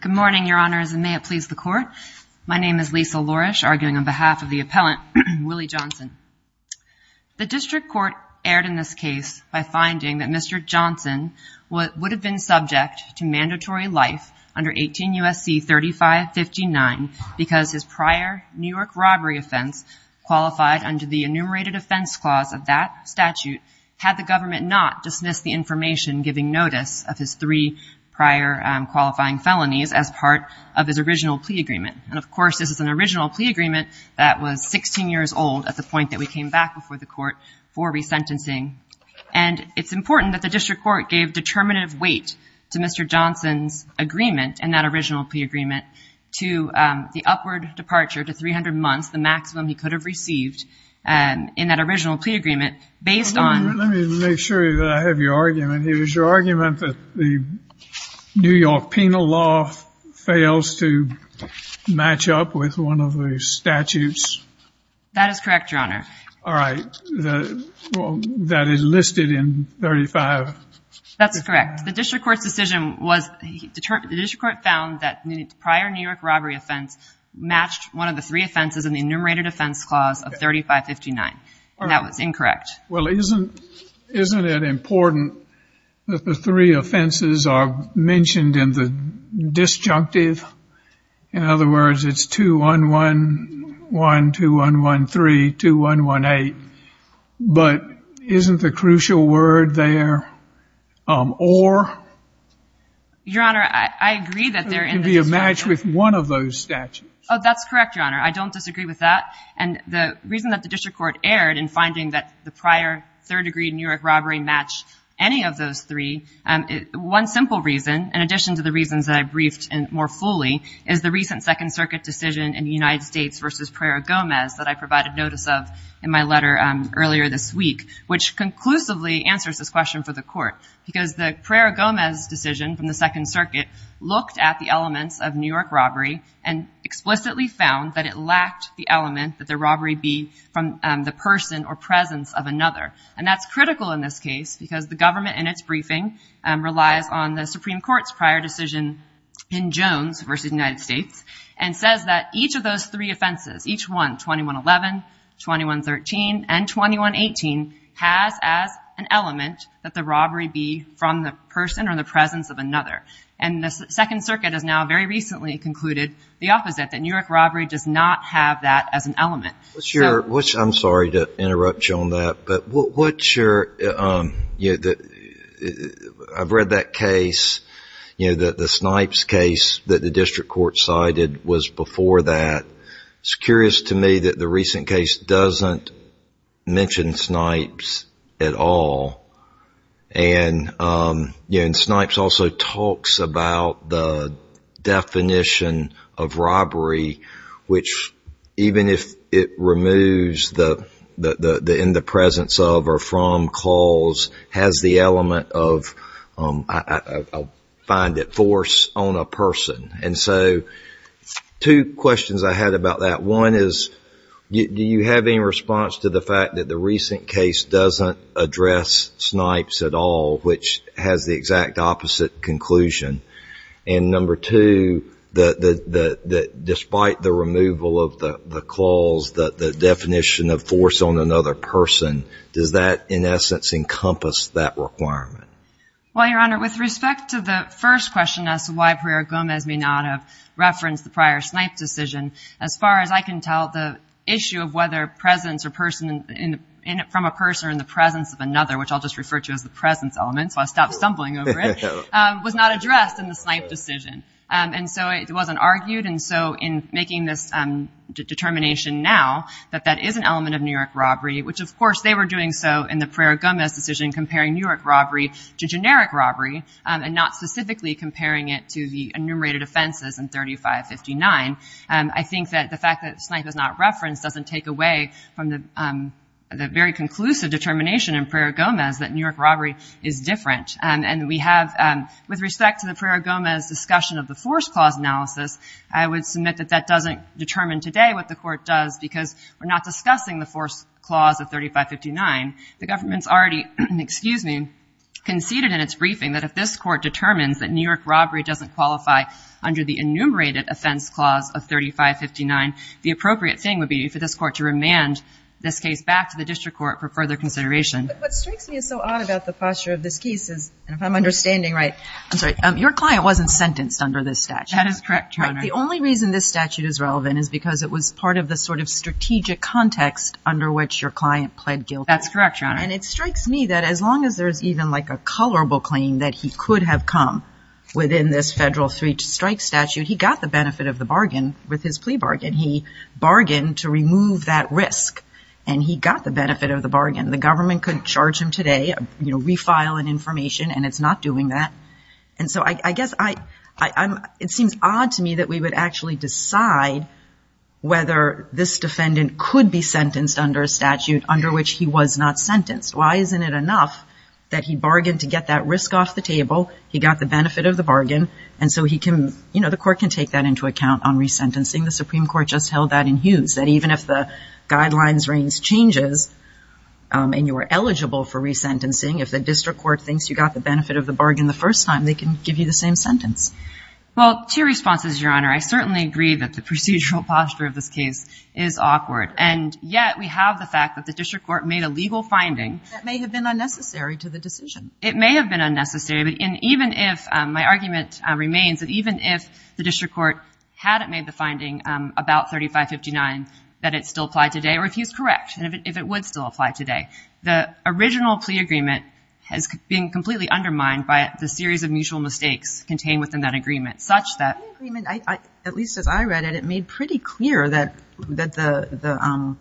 Good morning, your honors, and may it please the court. My name is Lisa Lourish, arguing on behalf of the appellant Willie Johnson. The district court erred in this case by finding that Mr. Johnson would have been subject to mandatory life under 18 U.S.C. 3559 because his prior New York robbery offense qualified under the enumerated offense clause of that statute had the government not dismissed the information giving notice of his three prior qualifying felonies as part of his original plea agreement. And, of course, this is an original plea agreement that was 16 years old at the point that we came back before the court for resentencing. And it's important that the district court gave determinative weight to Mr. Johnson's agreement and that original plea agreement to the upward departure to 300 months, the maximum he could have received in that original plea agreement based on... Let me make sure that I have your argument. It was your argument that the New York penal law fails to match up with one of the statutes? That is correct, your honor. All right. That is listed in 35... That's correct. The district court's decision was determined... The district court found that the prior New York robbery offense matched one of the three offenses in the enumerated offense clause of 3559. That was incorrect. Well, isn't it important that the three offenses are mentioned in the disjunctive? In other words, it's 2111, 2113, 2118. But isn't the crucial word there, or... Your honor, I agree that they're in the disjunctive. It can be a match with one of those statutes. Oh, that's correct, your honor. I don't disagree with that. And the reason that the district court erred in finding that the prior third-degree New York robbery matched any of those three, one simple reason, in addition to the reasons that I briefed more fully, is the recent Second Circuit decision in the United States versus Pereira-Gomez that I provided notice of in my letter earlier this week, which conclusively answers this question for the court. Because the Pereira-Gomez decision from the Second Circuit looked at the elements of New York robbery and explicitly found that it lacked the element that the robbery be from the person or presence of another. And that's critical in this case because the government, in its briefing, relies on the Supreme Court's prior decision in Jones versus the United States and says that each of those three offenses, each one, 2111, 2113, and 2118, has as an element that the robbery be from the person or the presence of another. And the Second Circuit has now very recently concluded the opposite, that New York robbery does not have that as an element. I'm sorry to interrupt you on that, but I've read that case, the Snipes case that the district court cited was before that. It's curious to me that the recent case doesn't mention Snipes at all. And Snipes also talks about the definition of robbery, which even if it removes the in the presence of or from cause, has the element of, I find it, force on a person. And so two questions I had about that. One is, do you have any response to the fact that the recent case doesn't address Snipes at all, which has the exact opposite conclusion? And number two, that despite the removal of the clause, the definition of force on another person, does that, in essence, encompass that requirement? Well, Your Honor, with respect to the first question as to why Pereira Gomez may not have referenced the prior Snipes decision, as far as I can tell, the issue of whether presence from a person or in the presence of another, which I'll just refer to as the presence element, so I'll stop stumbling over it, was not addressed in the Snipes decision. And so it wasn't argued. And so in making this determination now that that is an element of New York robbery, which, of course, they were doing so in the Pereira Gomez decision, comparing New York robbery to generic robbery, and not specifically comparing it to the enumerated offenses in 3559, I think that the fact that Snipes is not referenced doesn't take away from the very conclusive determination in Pereira Gomez that New York robbery is different. And we have, with respect to the Pereira Gomez discussion of the force clause analysis, I would submit that that doesn't determine today what the Court does, because we're not discussing the force clause of 3559. The government's already, excuse me, conceded in its briefing that if this Court determines that New York robbery doesn't qualify under the enumerated offense clause of 3559, the appropriate thing would be for this Court to remand this case back to the district court for further consideration. But what strikes me as so odd about the posture of this case is, if I'm understanding right, I'm sorry, your client wasn't sentenced under this statute. That is correct, Your Honor. The only reason this statute is relevant is because it was part of the sort of strategic context under which your client pled guilty. That's correct, Your Honor. And it strikes me that as long as there's even like a colorable claim that he could have come within this federal three-strike statute, he got the benefit of the bargain with his plea bargain. He bargained to remove that risk, and he got the benefit of the bargain. The government couldn't charge him today, you know, refile an information, and it's not doing that. And so I guess I'm – it seems odd to me that we would actually decide whether this defendant could be sentenced under a statute under which he was not sentenced. Why isn't it enough that he bargained to get that risk off the table, he got the benefit of the bargain, and so he can – you know, the Court can take that into account on resentencing. The Supreme Court just held that in Hughes, that even if the guidelines range changes and you are eligible for resentencing, if the district court thinks you got the benefit of the bargain the first time, they can give you the same sentence. Well, two responses, Your Honor. I certainly agree that the procedural posture of this case is awkward, and yet we have the fact that the district court made a legal finding. That may have been unnecessary to the decision. It may have been unnecessary, but even if – my argument remains that even if the district court hadn't made the finding about 3559 that it still applied today, or if he was correct, and if it would still apply today, the original plea agreement has been completely undermined by the series of mutual mistakes contained within that agreement, such that – The plea agreement, at least as I read it, it made pretty clear that the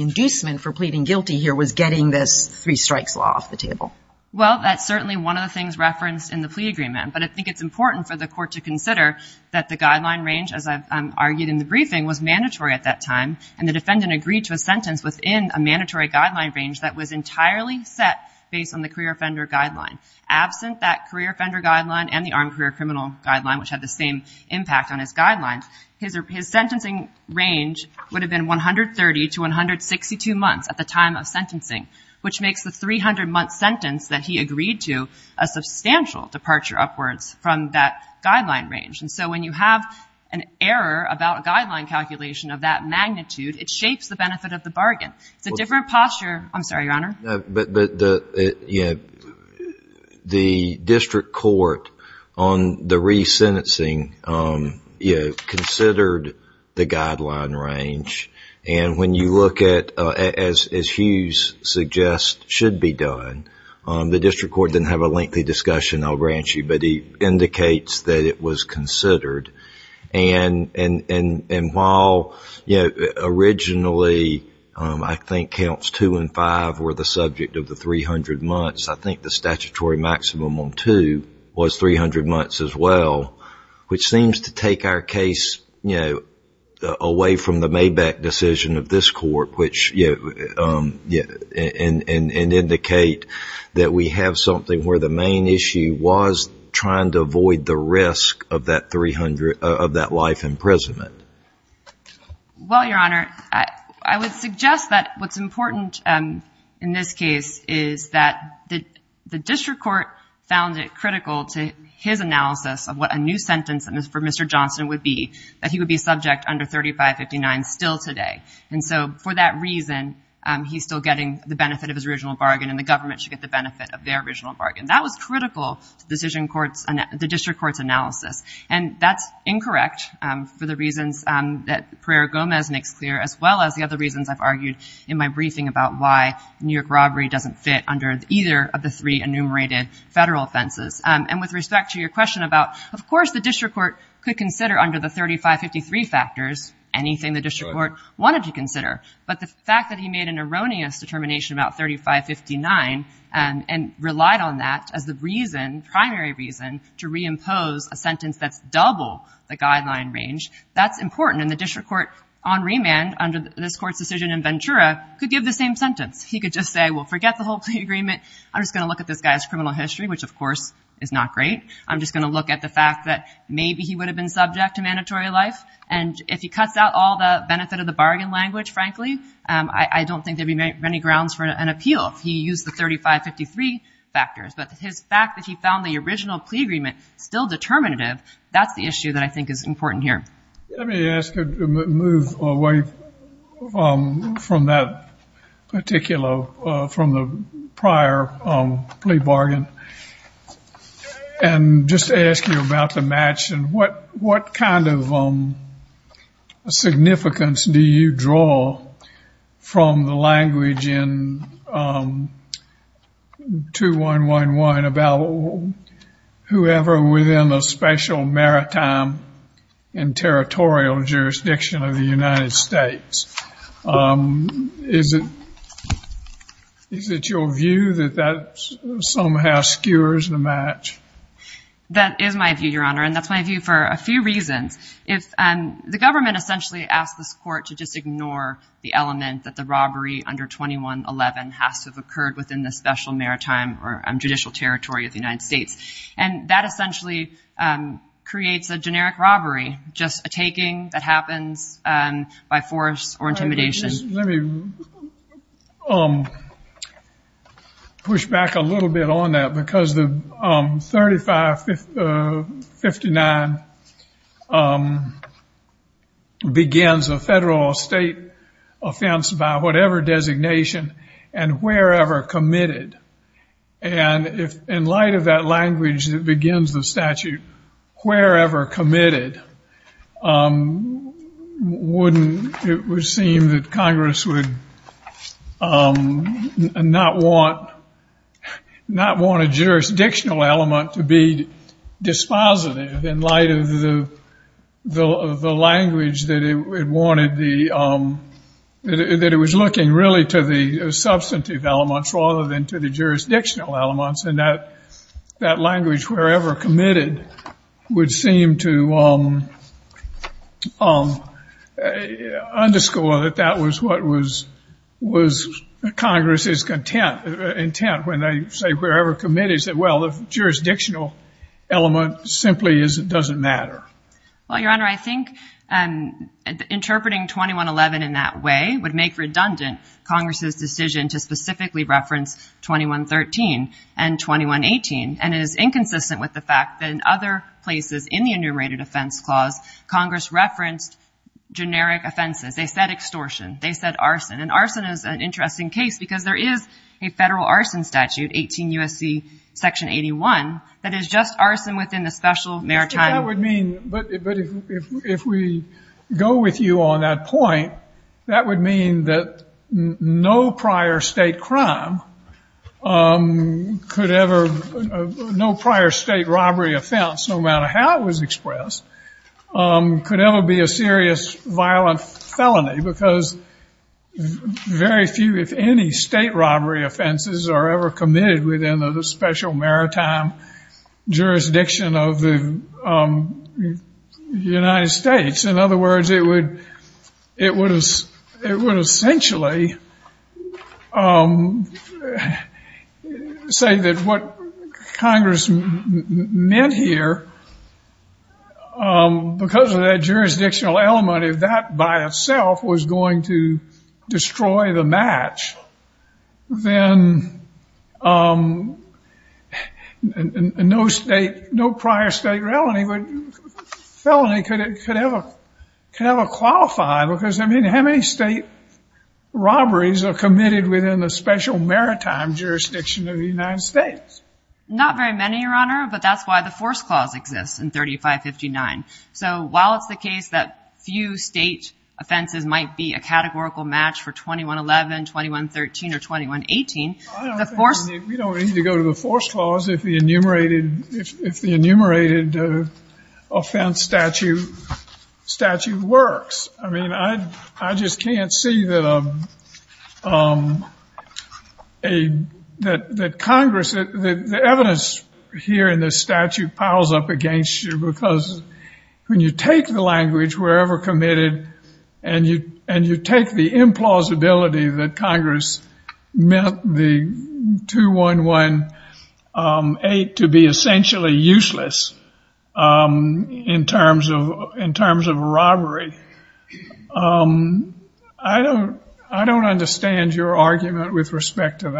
inducement for pleading guilty here was getting this three strikes law off the table. Well, that's certainly one of the things referenced in the plea agreement, but I think it's important for the Court to consider that the guideline range, as I've argued in the briefing, was mandatory at that time, and the defendant agreed to a sentence within a mandatory guideline range that was entirely set based on the career offender guideline. Absent that career offender guideline and the armed career criminal guideline, which had the same impact on his guidelines, his sentencing range would have been 130 to 162 months at the time of sentencing, which makes the 300-month sentence that he agreed to a substantial departure upwards from that guideline range. And so when you have an error about a guideline calculation of that magnitude, it shapes the benefit of the bargain. It's a different posture – I'm sorry, Your Honor. But, you know, the district court on the resentencing, you know, considered the guideline range, and when you look at, as Hughes suggests, should be done, the district court didn't have a lengthy discussion, I'll grant you, but he indicates that it was considered. And while, you know, originally I think counts 2 and 5 were the subject of the 300 months, I think the statutory maximum on 2 was 300 months as well, which seems to take our case, you know, away from the Maybach decision of this court, which, you know, and indicate that we have something where the main issue was trying to avoid the risk of that life imprisonment. Well, Your Honor, I would suggest that what's important in this case is that the district court found it critical to his analysis of what a new sentence for Mr. Johnson would be, that he would be subject under 3559 still today. And so for that reason, he's still getting the benefit of his original bargain and the government should get the benefit of their original bargain. That was critical to the district court's analysis. And that's incorrect for the reasons that Pereira-Gomez makes clear, as well as the other reasons I've argued in my briefing about why New York robbery doesn't fit under either of the three enumerated federal offenses. And with respect to your question about, of course, the district court could consider under the 3553 factors anything the district court wanted to consider, but the fact that he made an erroneous determination about 3559 and relied on that as the reason, primary reason, to reimpose a sentence that's double the guideline range, that's important. And the district court on remand under this court's decision in Ventura could give the same sentence. He could just say, well, forget the whole plea agreement. I'm just going to look at this guy's criminal history, which, of course, is not great. I'm just going to look at the fact that maybe he would have been subject to mandatory life. And if he cuts out all the benefit of the bargain language, frankly, I don't think there'd be many grounds for an appeal if he used the 3553 factors. But the fact that he found the original plea agreement still determinative, that's the issue that I think is important here. Let me ask you to move away from that particular, from the prior plea bargain, and just ask you about the match and what kind of significance do you draw from the language in 2111 about whoever within a special maritime and territorial jurisdiction of the United States? Is it your view that that somehow skewers the match? That is my view, Your Honor, and that's my view for a few reasons. The government essentially asked this court to just ignore the element that the robbery under 2111 has to have occurred within the special maritime or judicial territory of the United States. And that essentially creates a generic robbery, just a taking that happens by force or intimidation. Let me push back a little bit on that because the 3559 begins a federal or state offense by whatever designation and wherever committed. And in light of that language that begins the statute, wherever committed, it would seem that Congress would not want a jurisdictional element to be dispositive in light of the language that it wanted, that it was looking really to the substantive elements rather than to the jurisdictional elements. And that language, wherever committed, would seem to underscore that that was what was Congress's intent when they say wherever committed. They said, well, the jurisdictional element simply doesn't matter. Well, Your Honor, I think interpreting 2111 in that way would make redundant Congress's decision to specifically reference 2113 and 2118. And it is inconsistent with the fact that in other places in the enumerated offense clause, Congress referenced generic offenses. They said extortion. They said arson. And arson is an interesting case because there is a federal arson statute, 18 U.S.C. section 81, that is just arson within the special maritime. But if we go with you on that point, that would mean that no prior state crime could ever, no prior state robbery offense, no matter how it was expressed, could ever be a serious violent felony because very few, if any, state robbery offenses are ever committed within the special maritime jurisdiction of the United States. In other words, it would essentially say that what Congress meant here, because of that jurisdictional element, if that by itself was going to destroy the match, then no prior state felony could ever qualify because, I mean, how many state robberies are committed within the special maritime jurisdiction of the United States? Not very many, Your Honor, but that's why the force clause exists in 3559. So while it's the case that few state offenses might be a categorical match for 2111, 2113, or 2118, the force... We don't need to go to the force clause if the enumerated offense statute works. I mean, I just can't see that Congress, the evidence here in this statute piles up against you because when you take the language, wherever committed, and you take the implausibility that Congress meant the 2118 to be essentially useless in terms of robbery, I don't understand your argument with respect to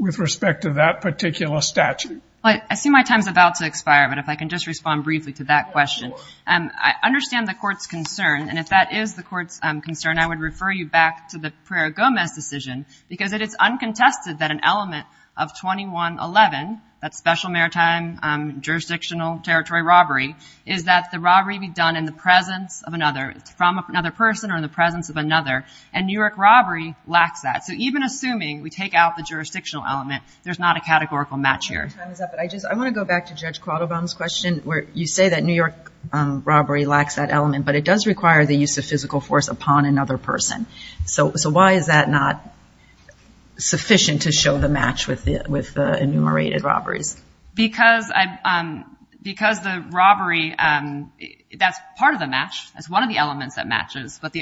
that particular statute. I see my time's about to expire, but if I can just respond briefly to that question. I understand the court's concern, and if that is the court's concern, I would refer you back to the Pereira-Gomez decision because it is uncontested that an element of 2111, that special maritime jurisdictional territory robbery, is that the robbery be done in the presence of another, from another person or in the presence of another, and New York robbery lacks that. So even assuming we take out the jurisdictional element, there's not a categorical match here. I want to go back to Judge Quattlebaum's question where you say that New York robbery lacks that element, but it does require the use of physical force upon another person. So why is that not sufficient to show the match with the enumerated robberies? Because the robbery, that's part of the match, that's one of the elements that matches, but the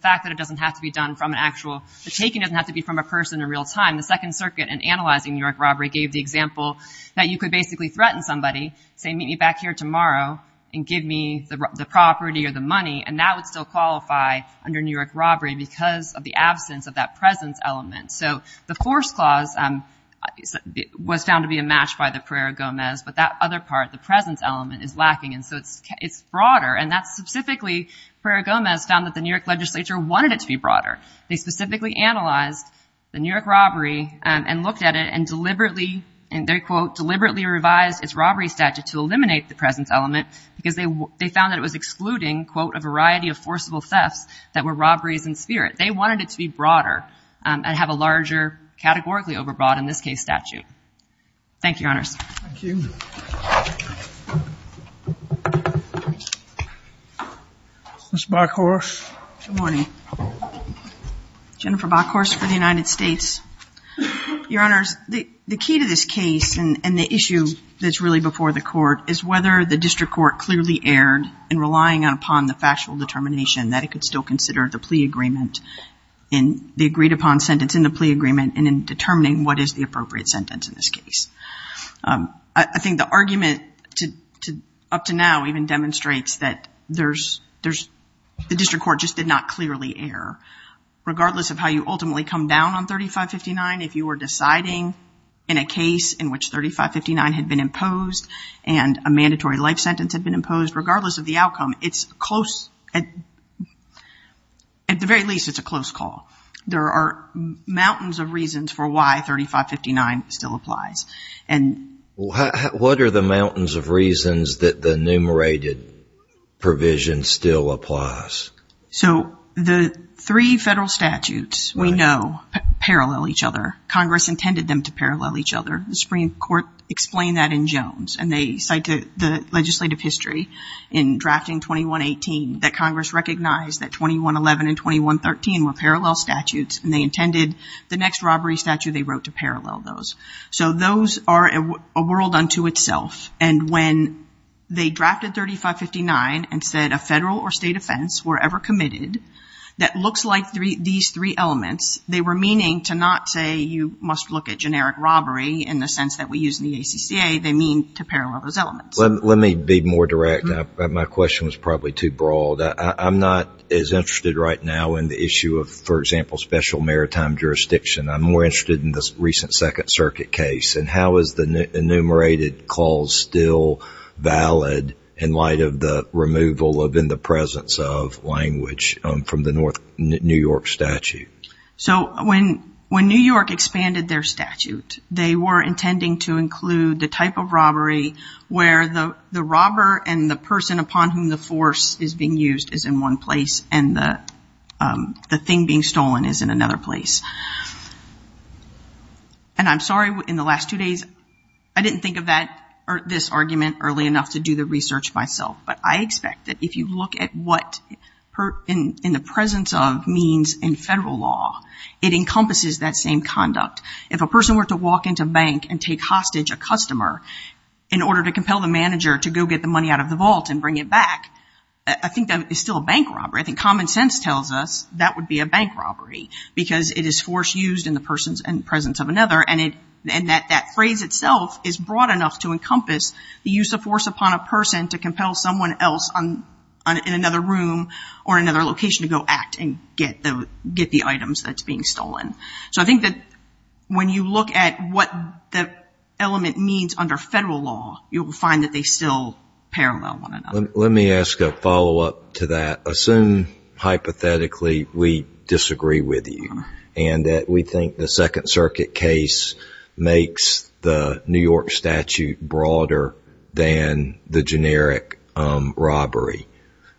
fact that it doesn't have to be done from an actual, the taking doesn't have to be from a person in real time. The Second Circuit, in analyzing New York robbery, gave the example that you could basically threaten somebody, say, meet me back here tomorrow and give me the property or the money, and that would still qualify under New York robbery because of the absence of that presence element. So the force clause was found to be a match by the Pereira-Gomez, but that other part, the presence element, is lacking, and so it's broader, and that's specifically, Pereira-Gomez found that the New York legislature wanted it to be broader. They specifically analyzed the New York robbery and looked at it and deliberately, and they, quote, deliberately revised its robbery statute to eliminate the presence element because they found that it was excluding, quote, a variety of forcible thefts that were robberies in spirit. They wanted it to be broader and have a larger categorically overbought, in this case, statute. Thank you, Your Honors. Thank you. Ms. Bockhorst. Good morning. Jennifer Bockhorst for the United States. Your Honors, the key to this case and the issue that's really before the court is whether the district court clearly erred in relying upon the factual determination that it could still consider the plea agreement in the agreed-upon sentence in the plea agreement and in determining what is the appropriate sentence in this case. I think the argument up to now even demonstrates that there's the district court just did not clearly err, regardless of how you ultimately come down on 3559. If you were deciding in a case in which 3559 had been imposed and a mandatory life sentence had been imposed, regardless of the outcome, it's close. At the very least, it's a close call. There are mountains of reasons for why 3559 still applies. What are the mountains of reasons that the enumerated provision still applies? So the three federal statutes we know parallel each other. Congress intended them to parallel each other. The Supreme Court explained that in Jones, and they cite the legislative history in drafting 2118 that Congress recognized that 2111 and 2113 were parallel statutes, and they intended the next robbery statute they wrote to parallel those. So those are a world unto itself. And when they drafted 3559 and said a federal or state offense were ever committed that looks like these three elements, they were meaning to not say you must look at generic robbery in the sense that we use in the ACCA. They mean to parallel those elements. Let me be more direct. My question was probably too broad. I'm not as interested right now in the issue of, for example, special maritime jurisdiction. I'm more interested in the recent Second Circuit case, and how is the enumerated clause still valid in light of the removal of in the presence of language from the New York statute? So when New York expanded their statute, they were intending to include the type of robbery where the robber and the person upon whom the force is being used is in one place and the thing being stolen is in another place. And I'm sorry, in the last two days I didn't think of this argument early enough to do the research myself, but I expect that if you look at what in the presence of means in federal law, it encompasses that same conduct. If a person were to walk into a bank and take hostage a customer in order to compel the manager to go get the money out of the vault and bring it back, I think that is still a bank robbery. I think common sense tells us that would be a bank robbery because it is force used in the presence of another, and that phrase itself is broad enough to encompass the use of force upon a person to compel someone else in another room or in another location to go act and get the items that's being stolen. So I think that when you look at what the element means under federal law, you'll find that they still parallel one another. Let me ask a follow-up to that. Assume hypothetically we disagree with you and that we think the Second Circuit case makes the New York statute broader than the generic robbery.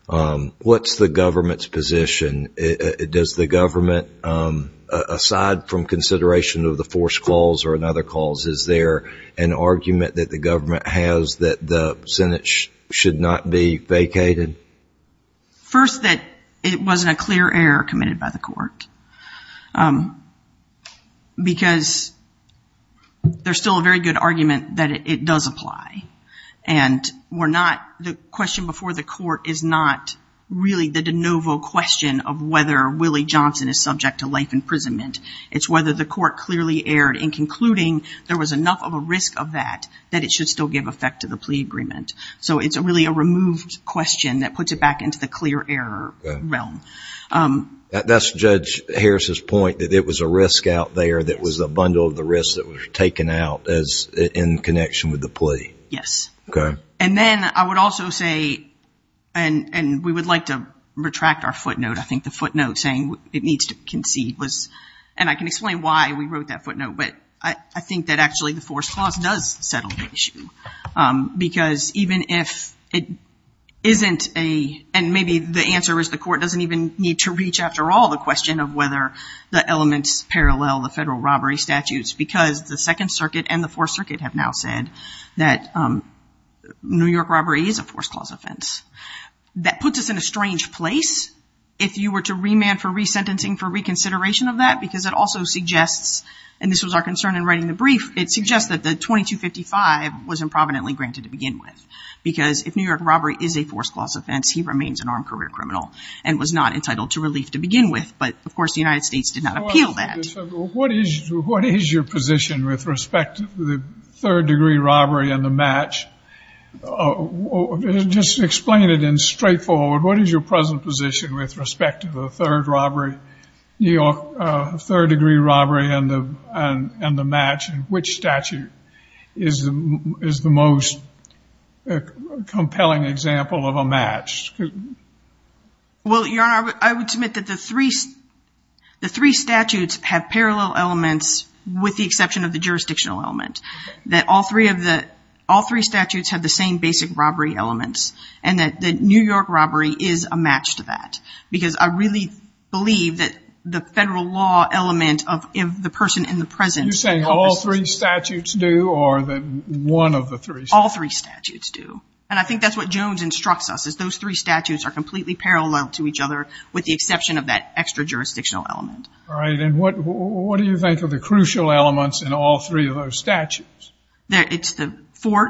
What's the government's position? Does the government, aside from consideration of the force clause or another clause, is there an argument that the government has that the Senate should not be vacated? First, that it wasn't a clear error committed by the court because there's still a very good argument that it does apply. And the question before the court is not really the de novo question of whether Willie Johnson is subject to life imprisonment. It's whether the court clearly erred in concluding there was enough of a risk of that that it should still give effect to the plea agreement. So it's really a removed question that puts it back into the clear error realm. That's Judge Harris's point, that it was a risk out there that was a bundle of the risk that was taken out in connection with the plea. Yes. Okay. And then I would also say, and we would like to retract our footnote, I think the footnote saying it needs to concede was, and I can explain why we wrote that footnote, but I think that actually the force clause does settle the issue because even if it isn't a, and maybe the answer is the court doesn't even need to reach after all the question of whether the elements parallel the federal robbery statutes because the Second Circuit and the Fourth Circuit have now said that New York robbery is a force clause offense. That puts us in a strange place if you were to remand for resentencing for reconsideration of that because it also suggests, and this was our concern in writing the brief, it suggests that the 2255 was improvidently granted to begin with because if New York robbery is a force clause offense, he remains an armed career criminal and was not entitled to relief to begin with. But, of course, the United States did not appeal that. What is your position with respect to the third degree robbery and the match? Just explain it in straightforward. What is your present position with respect to the third robbery, New York third degree robbery and the match? Which statute is the most compelling example of a match? Well, Your Honor, I would submit that the three statutes have parallel elements with the exception of the jurisdictional element, that all three statutes have the same basic robbery elements and that the New York robbery is a match to that because I really believe that the federal law element of the person in the present. You're saying all three statutes do or one of the three? All three statutes do. And I think that's what Jones instructs us, is those three statutes are completely parallel to each other with the exception of that extra jurisdictional element. All right. And what do you think are the crucial elements in all three of those statutes? It's the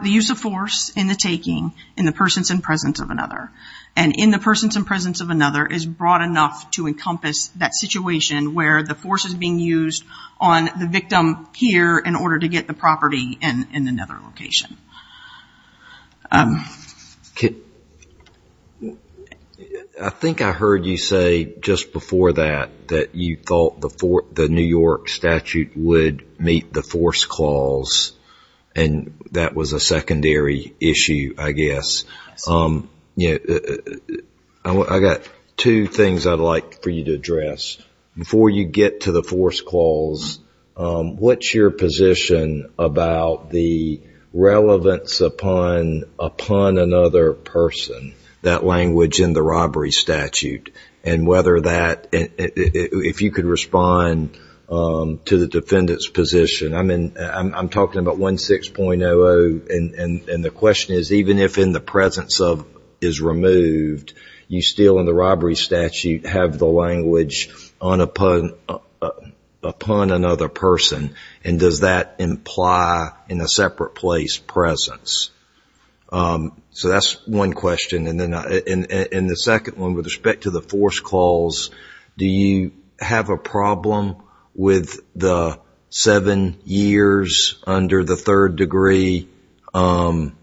use of force in the taking in the persons in presence of another. And in the persons in presence of another is broad enough to encompass that situation where the force is being used on the victim here in order to get the property in another location. I think I heard you say just before that, that you thought the New York statute would meet the force clause I got two things I'd like for you to address. Before you get to the force clause, what's your position about the relevance upon another person, that language in the robbery statute, and whether that, if you could respond to the defendant's position. I'm talking about 16.00 And the question is, even if in the presence of is removed, you still in the robbery statute have the language upon another person. And does that imply in a separate place presence? So that's one question. And the second one, with respect to the force clause, do you have a problem with the seven years under the third degree, third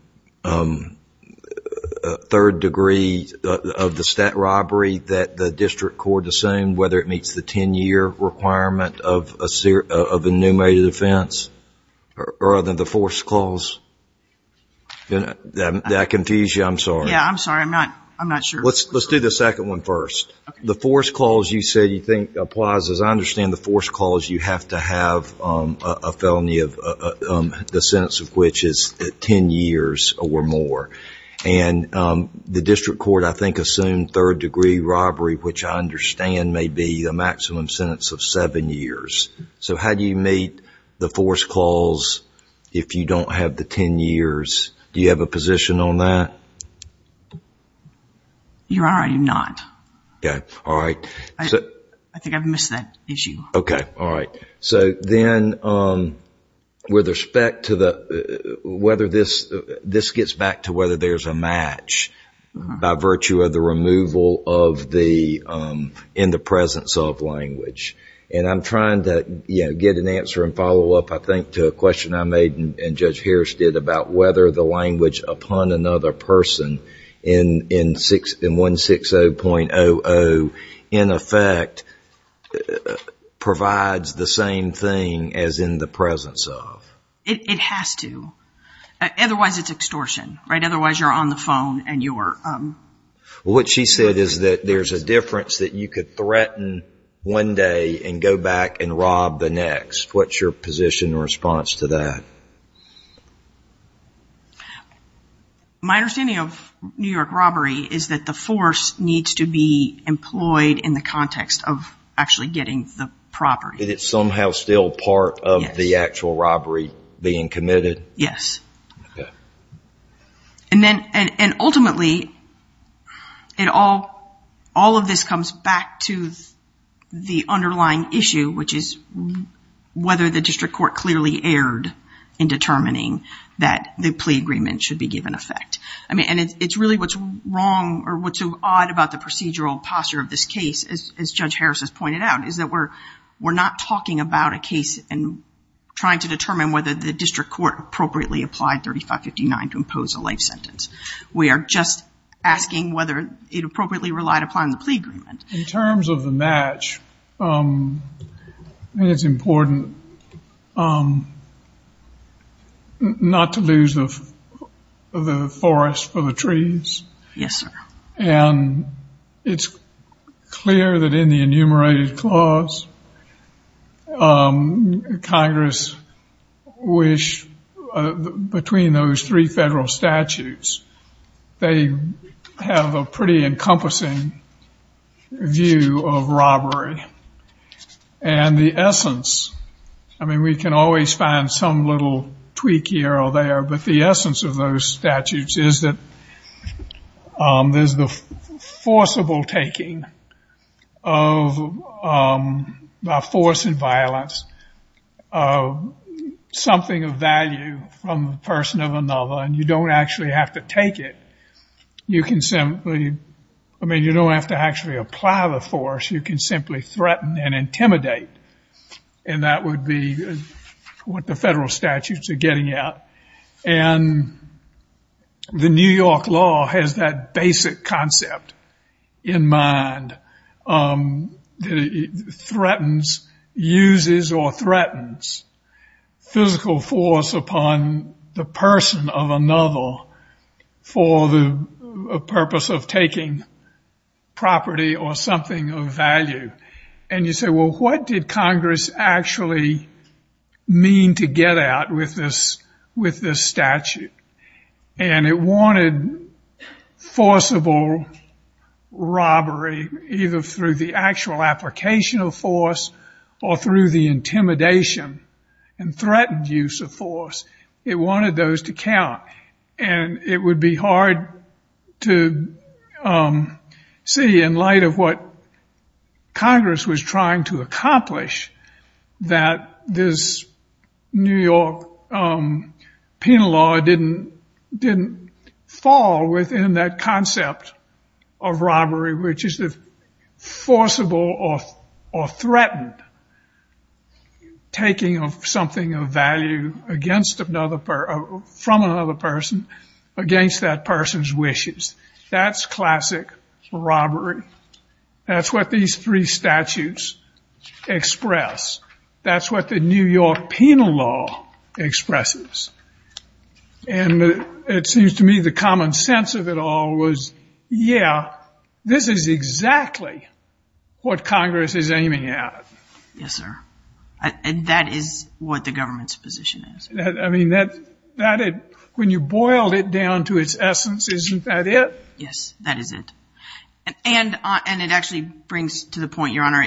degree of the stat robbery that the district court assumed, whether it meets the 10-year requirement of a enumerated offense, rather than the force clause? Did I confuse you? I'm sorry. Yeah, I'm sorry. I'm not sure. Let's do the second one first. The force clause you said you think applies. As I understand the force clause, you have to have a felony, the sentence of which is 10 years or more. And the district court, I think, assumed third degree robbery, which I understand may be a maximum sentence of seven years. So how do you meet the force clause if you don't have the 10 years? Do you have a position on that? Your Honor, I do not. Okay. All right. I think I've missed that issue. Okay. All right. So then with respect to whether this gets back to whether there's a match by virtue of the removal in the presence of language. And I'm trying to get an answer and follow up, I think, to a question I made and Judge Harris did about whether the language upon another person in 160.00, in effect, provides the same thing as in the presence of. It has to. Otherwise, it's extortion. Right? Otherwise, you're on the phone and you're. Well, what she said is that there's a difference that you could threaten one day and go back and rob the next. What's your position in response to that? My understanding of New York robbery is that the force needs to be employed in the context of actually getting the property. Is it somehow still part of the actual robbery being committed? Yes. Okay. And ultimately, all of this comes back to the underlying issue, which is whether the district court clearly erred in determining that the plea agreement should be given effect. I mean, and it's really what's wrong or what's odd about the procedural posture of this case, as Judge Harris has pointed out, is that we're not talking about a case and trying to determine whether the district court appropriately applied 3559 to impose a life sentence. We are just asking whether it appropriately relied upon the plea agreement. In terms of the match, I think it's important not to lose the forest for the trees. Yes, sir. And it's clear that in the enumerated clause, Congress wished between those three federal statutes, they have a pretty encompassing view of robbery. And the essence, I mean, we can always find some little tweak here or there, but the essence of those statutes is that there's the forcible taking by force and violence of something of value from the person of another, and you don't actually have to take it. I mean, you don't have to actually apply the force. You can simply threaten and intimidate, and that would be what the federal statutes are getting at. And the New York law has that basic concept in mind, that it threatens, uses or threatens physical force upon the person of another for the purpose of taking property or something of value. And you say, well, what did Congress actually mean to get at with this statute? And it wanted forcible robbery either through the actual application of force or through the intimidation and threatened use of force. It wanted those to count, and it would be hard to see in light of what Congress was trying to accomplish that this New York penal law didn't fall within that concept of robbery, which is the forcible or threatened taking of something of value from another person against that person's wishes. That's classic robbery. That's what these three statutes express. That's what the New York penal law expresses. And it seems to me the common sense of it all was, yeah, this is exactly what Congress is aiming at. Yes, sir. And that is what the government's position is. I mean, when you boiled it down to its essence, isn't that it? Yes, that is it. And it actually brings to the point, Your Honor,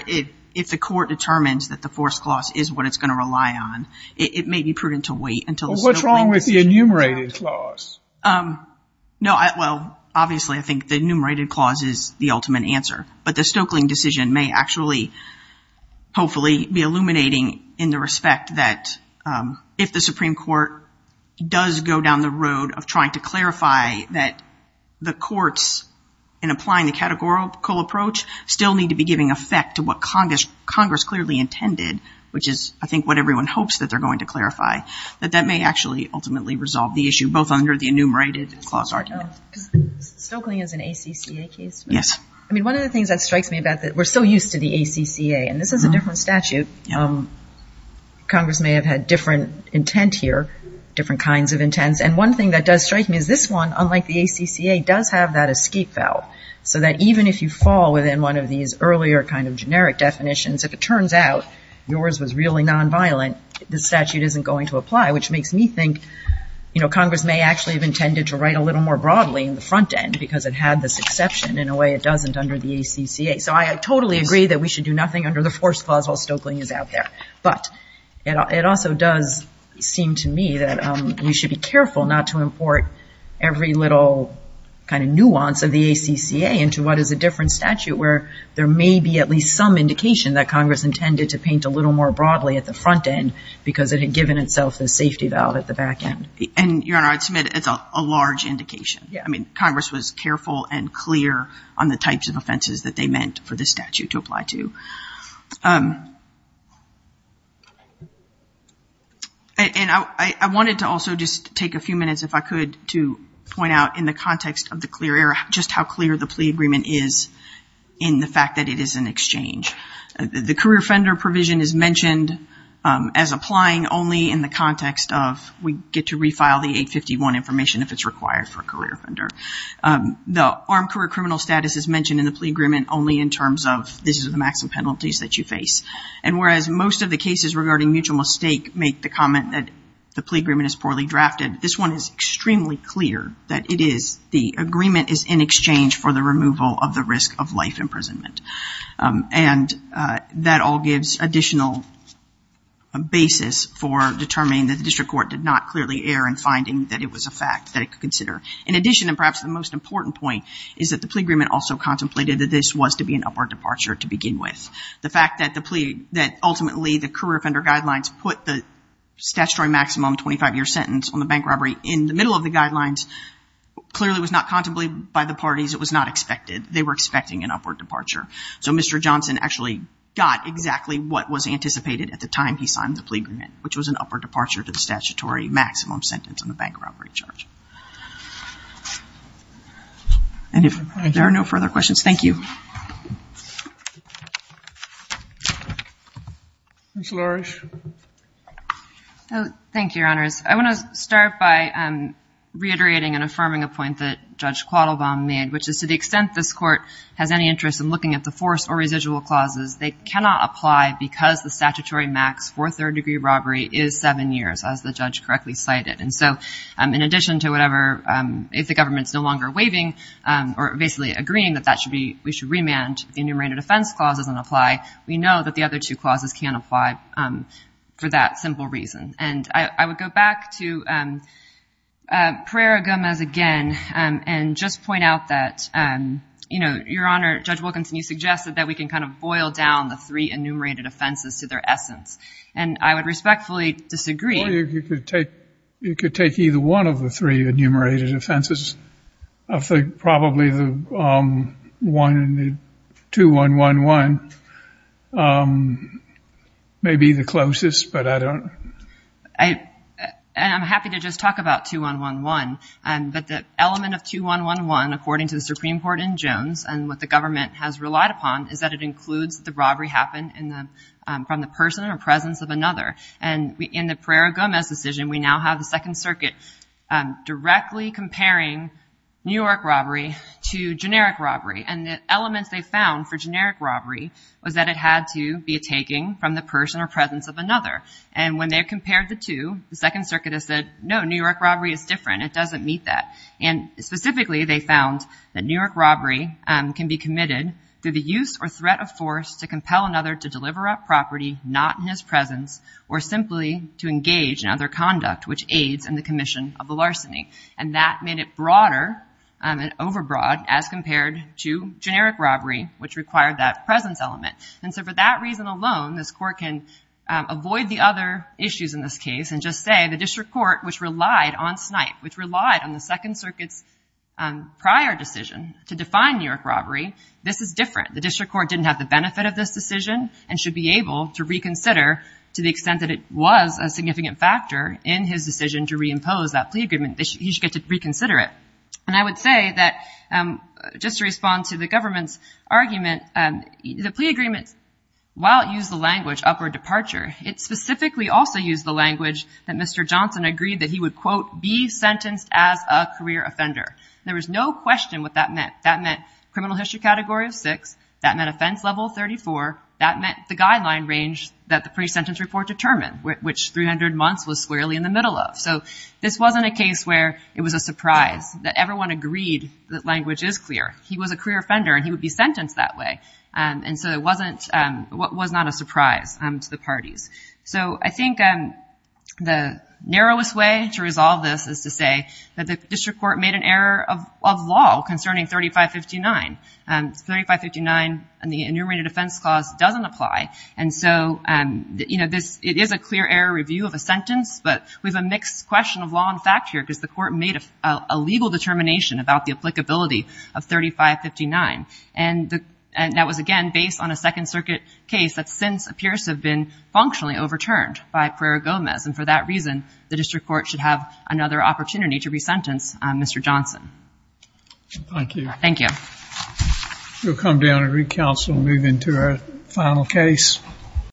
if the court determines that the force clause is what it's going to rely on, it may be prudent to wait until the Stokeling decision. Well, what's wrong with the enumerated clause? No, well, obviously I think the enumerated clause is the ultimate answer. But the Stokeling decision may actually, hopefully, be illuminating in the respect that if the Supreme Court does go down the road of trying to clarify that the courts, in applying the categorical approach, still need to be giving effect to what Congress clearly intended, which is I think what everyone hopes that they're going to clarify, that that may actually ultimately resolve the issue, both under the enumerated clause argument. Stokeling is an ACCA case. Yes. I mean, one of the things that strikes me about that, we're so used to the ACCA, and this is a different statute. Congress may have had different intent here, different kinds of intents. And one thing that does strike me is this one, unlike the ACCA, does have that escape valve, so that even if you fall within one of these earlier kind of generic definitions, if it turns out yours was really nonviolent, the statute isn't going to apply, which makes me think, you know, Congress may actually have intended to write a little more broadly in the front end because it had this exception. In a way, it doesn't under the ACCA. So I totally agree that we should do nothing under the force clause while Stokeling is out there. But it also does seem to me that we should be careful not to import every little kind of nuance of the ACCA into what is a different statute where there may be at least some indication that Congress intended to paint a little more broadly at the front end because it had given itself the safety valve at the back end. And, Your Honor, I'd submit it's a large indication. Yeah. I mean, Congress was careful and clear on the types of offenses that they meant for the statute to apply to. And I wanted to also just take a few minutes, if I could, to point out in the context of the clear error just how clear the plea agreement is in the fact that it is an exchange. The career offender provision is mentioned as applying only in the context of we get to refile the 851 information if it's required for a career offender. The armed career criminal status is mentioned in the plea agreement only in terms of this is the maximum penalties that you face. And whereas most of the cases regarding mutual mistake make the comment that the plea agreement is poorly drafted, this one is extremely clear that it is. The agreement is in exchange for the removal of the risk of life imprisonment. And that all gives additional basis for determining that the district court did not clearly err in finding that it was a fact that it could consider. In addition, and perhaps the most important point, is that the plea agreement also contemplated that this was to be an upward departure to begin with. The fact that ultimately the career offender guidelines put the statutory maximum 25-year sentence on the bank robbery in the middle of the guidelines clearly was not contemplated by the parties. It was not expected. They were expecting an upward departure. So Mr. Johnson actually got exactly what was anticipated at the time he signed the plea agreement, which was an upward departure to the statutory maximum sentence on the bank robbery. And if there are no further questions, thank you. Ms. Lourish. Thank you, Your Honors. I want to start by reiterating and affirming a point that Judge Quattlebaum made, which is to the extent this court has any interest in looking at the forced or residual clauses, they cannot apply because the statutory max for third-degree robbery is seven years, as the judge correctly cited. And so in addition to whatever, if the government's no longer waiving or basically agreeing that we should remand the enumerated offense clauses and apply, we know that the other two clauses can't apply for that simple reason. And I would go back to Pereira-Gomez again and just point out that, you know, Your Honor, Judge Wilkinson, you suggested that we can kind of boil down the three enumerated offenses to their essence. And I would respectfully disagree. Well, you could take either one of the three enumerated offenses. I think probably the one in the 2-1-1-1 may be the closest, but I don't. And I'm happy to just talk about 2-1-1-1. But the element of 2-1-1-1, according to the Supreme Court in Jones, and what the government has relied upon, is that it includes the robbery happened from the person or presence of another. And in the Pereira-Gomez decision, we now have the Second Circuit directly comparing New York robbery to generic robbery. And the elements they found for generic robbery was that it had to be a taking from the person or presence of another. And when they compared the two, the Second Circuit has said, no, New York robbery is different. It doesn't meet that. And specifically, they found that New York robbery can be committed through the use or threat of force to compel another to deliver a property not in his presence or simply to engage in other conduct, which aids in the commission of the larceny. And that made it broader and overbroad as compared to generic robbery, which required that presence element. And so for that reason alone, this Court can avoid the other issues in this case and just say the District Court, which relied on snipe, which relied on the Second Circuit's prior decision to define New York robbery, this is different. The District Court didn't have the benefit of this decision and should be able to reconsider to the extent that it was a significant factor in his decision to reimpose that plea agreement. He should get to reconsider it. And I would say that just to respond to the government's argument, the plea agreement, while it used the language upward departure, it specifically also used the language that Mr. Johnson agreed that he would, quote, be sentenced as a career offender. There was no question what that meant. That meant criminal history category of six. That meant offense level 34. That meant the guideline range that the pre-sentence report determined, which 300 months was squarely in the middle of. So this wasn't a case where it was a surprise that everyone agreed that language is clear. He was a career offender and he would be sentenced that way. And so it wasn't, it was not a surprise to the parties. So I think the narrowest way to resolve this is to say that the District Court made an error of law concerning 3559. 3559 in the Enumerated Offense Clause doesn't apply. And so, you know, it is a clear error review of a sentence, but we have a mixed question of law and fact here because the Court made a legal determination about the applicability of 3559. And that was, again, based on a Second Circuit case that since appears to have been functionally overturned by Pereira-Gomez. And for that reason, the District Court should have another opportunity to resentence Mr. Johnson. Thank you. Thank you. We'll come down and re-counsel and move into our final case.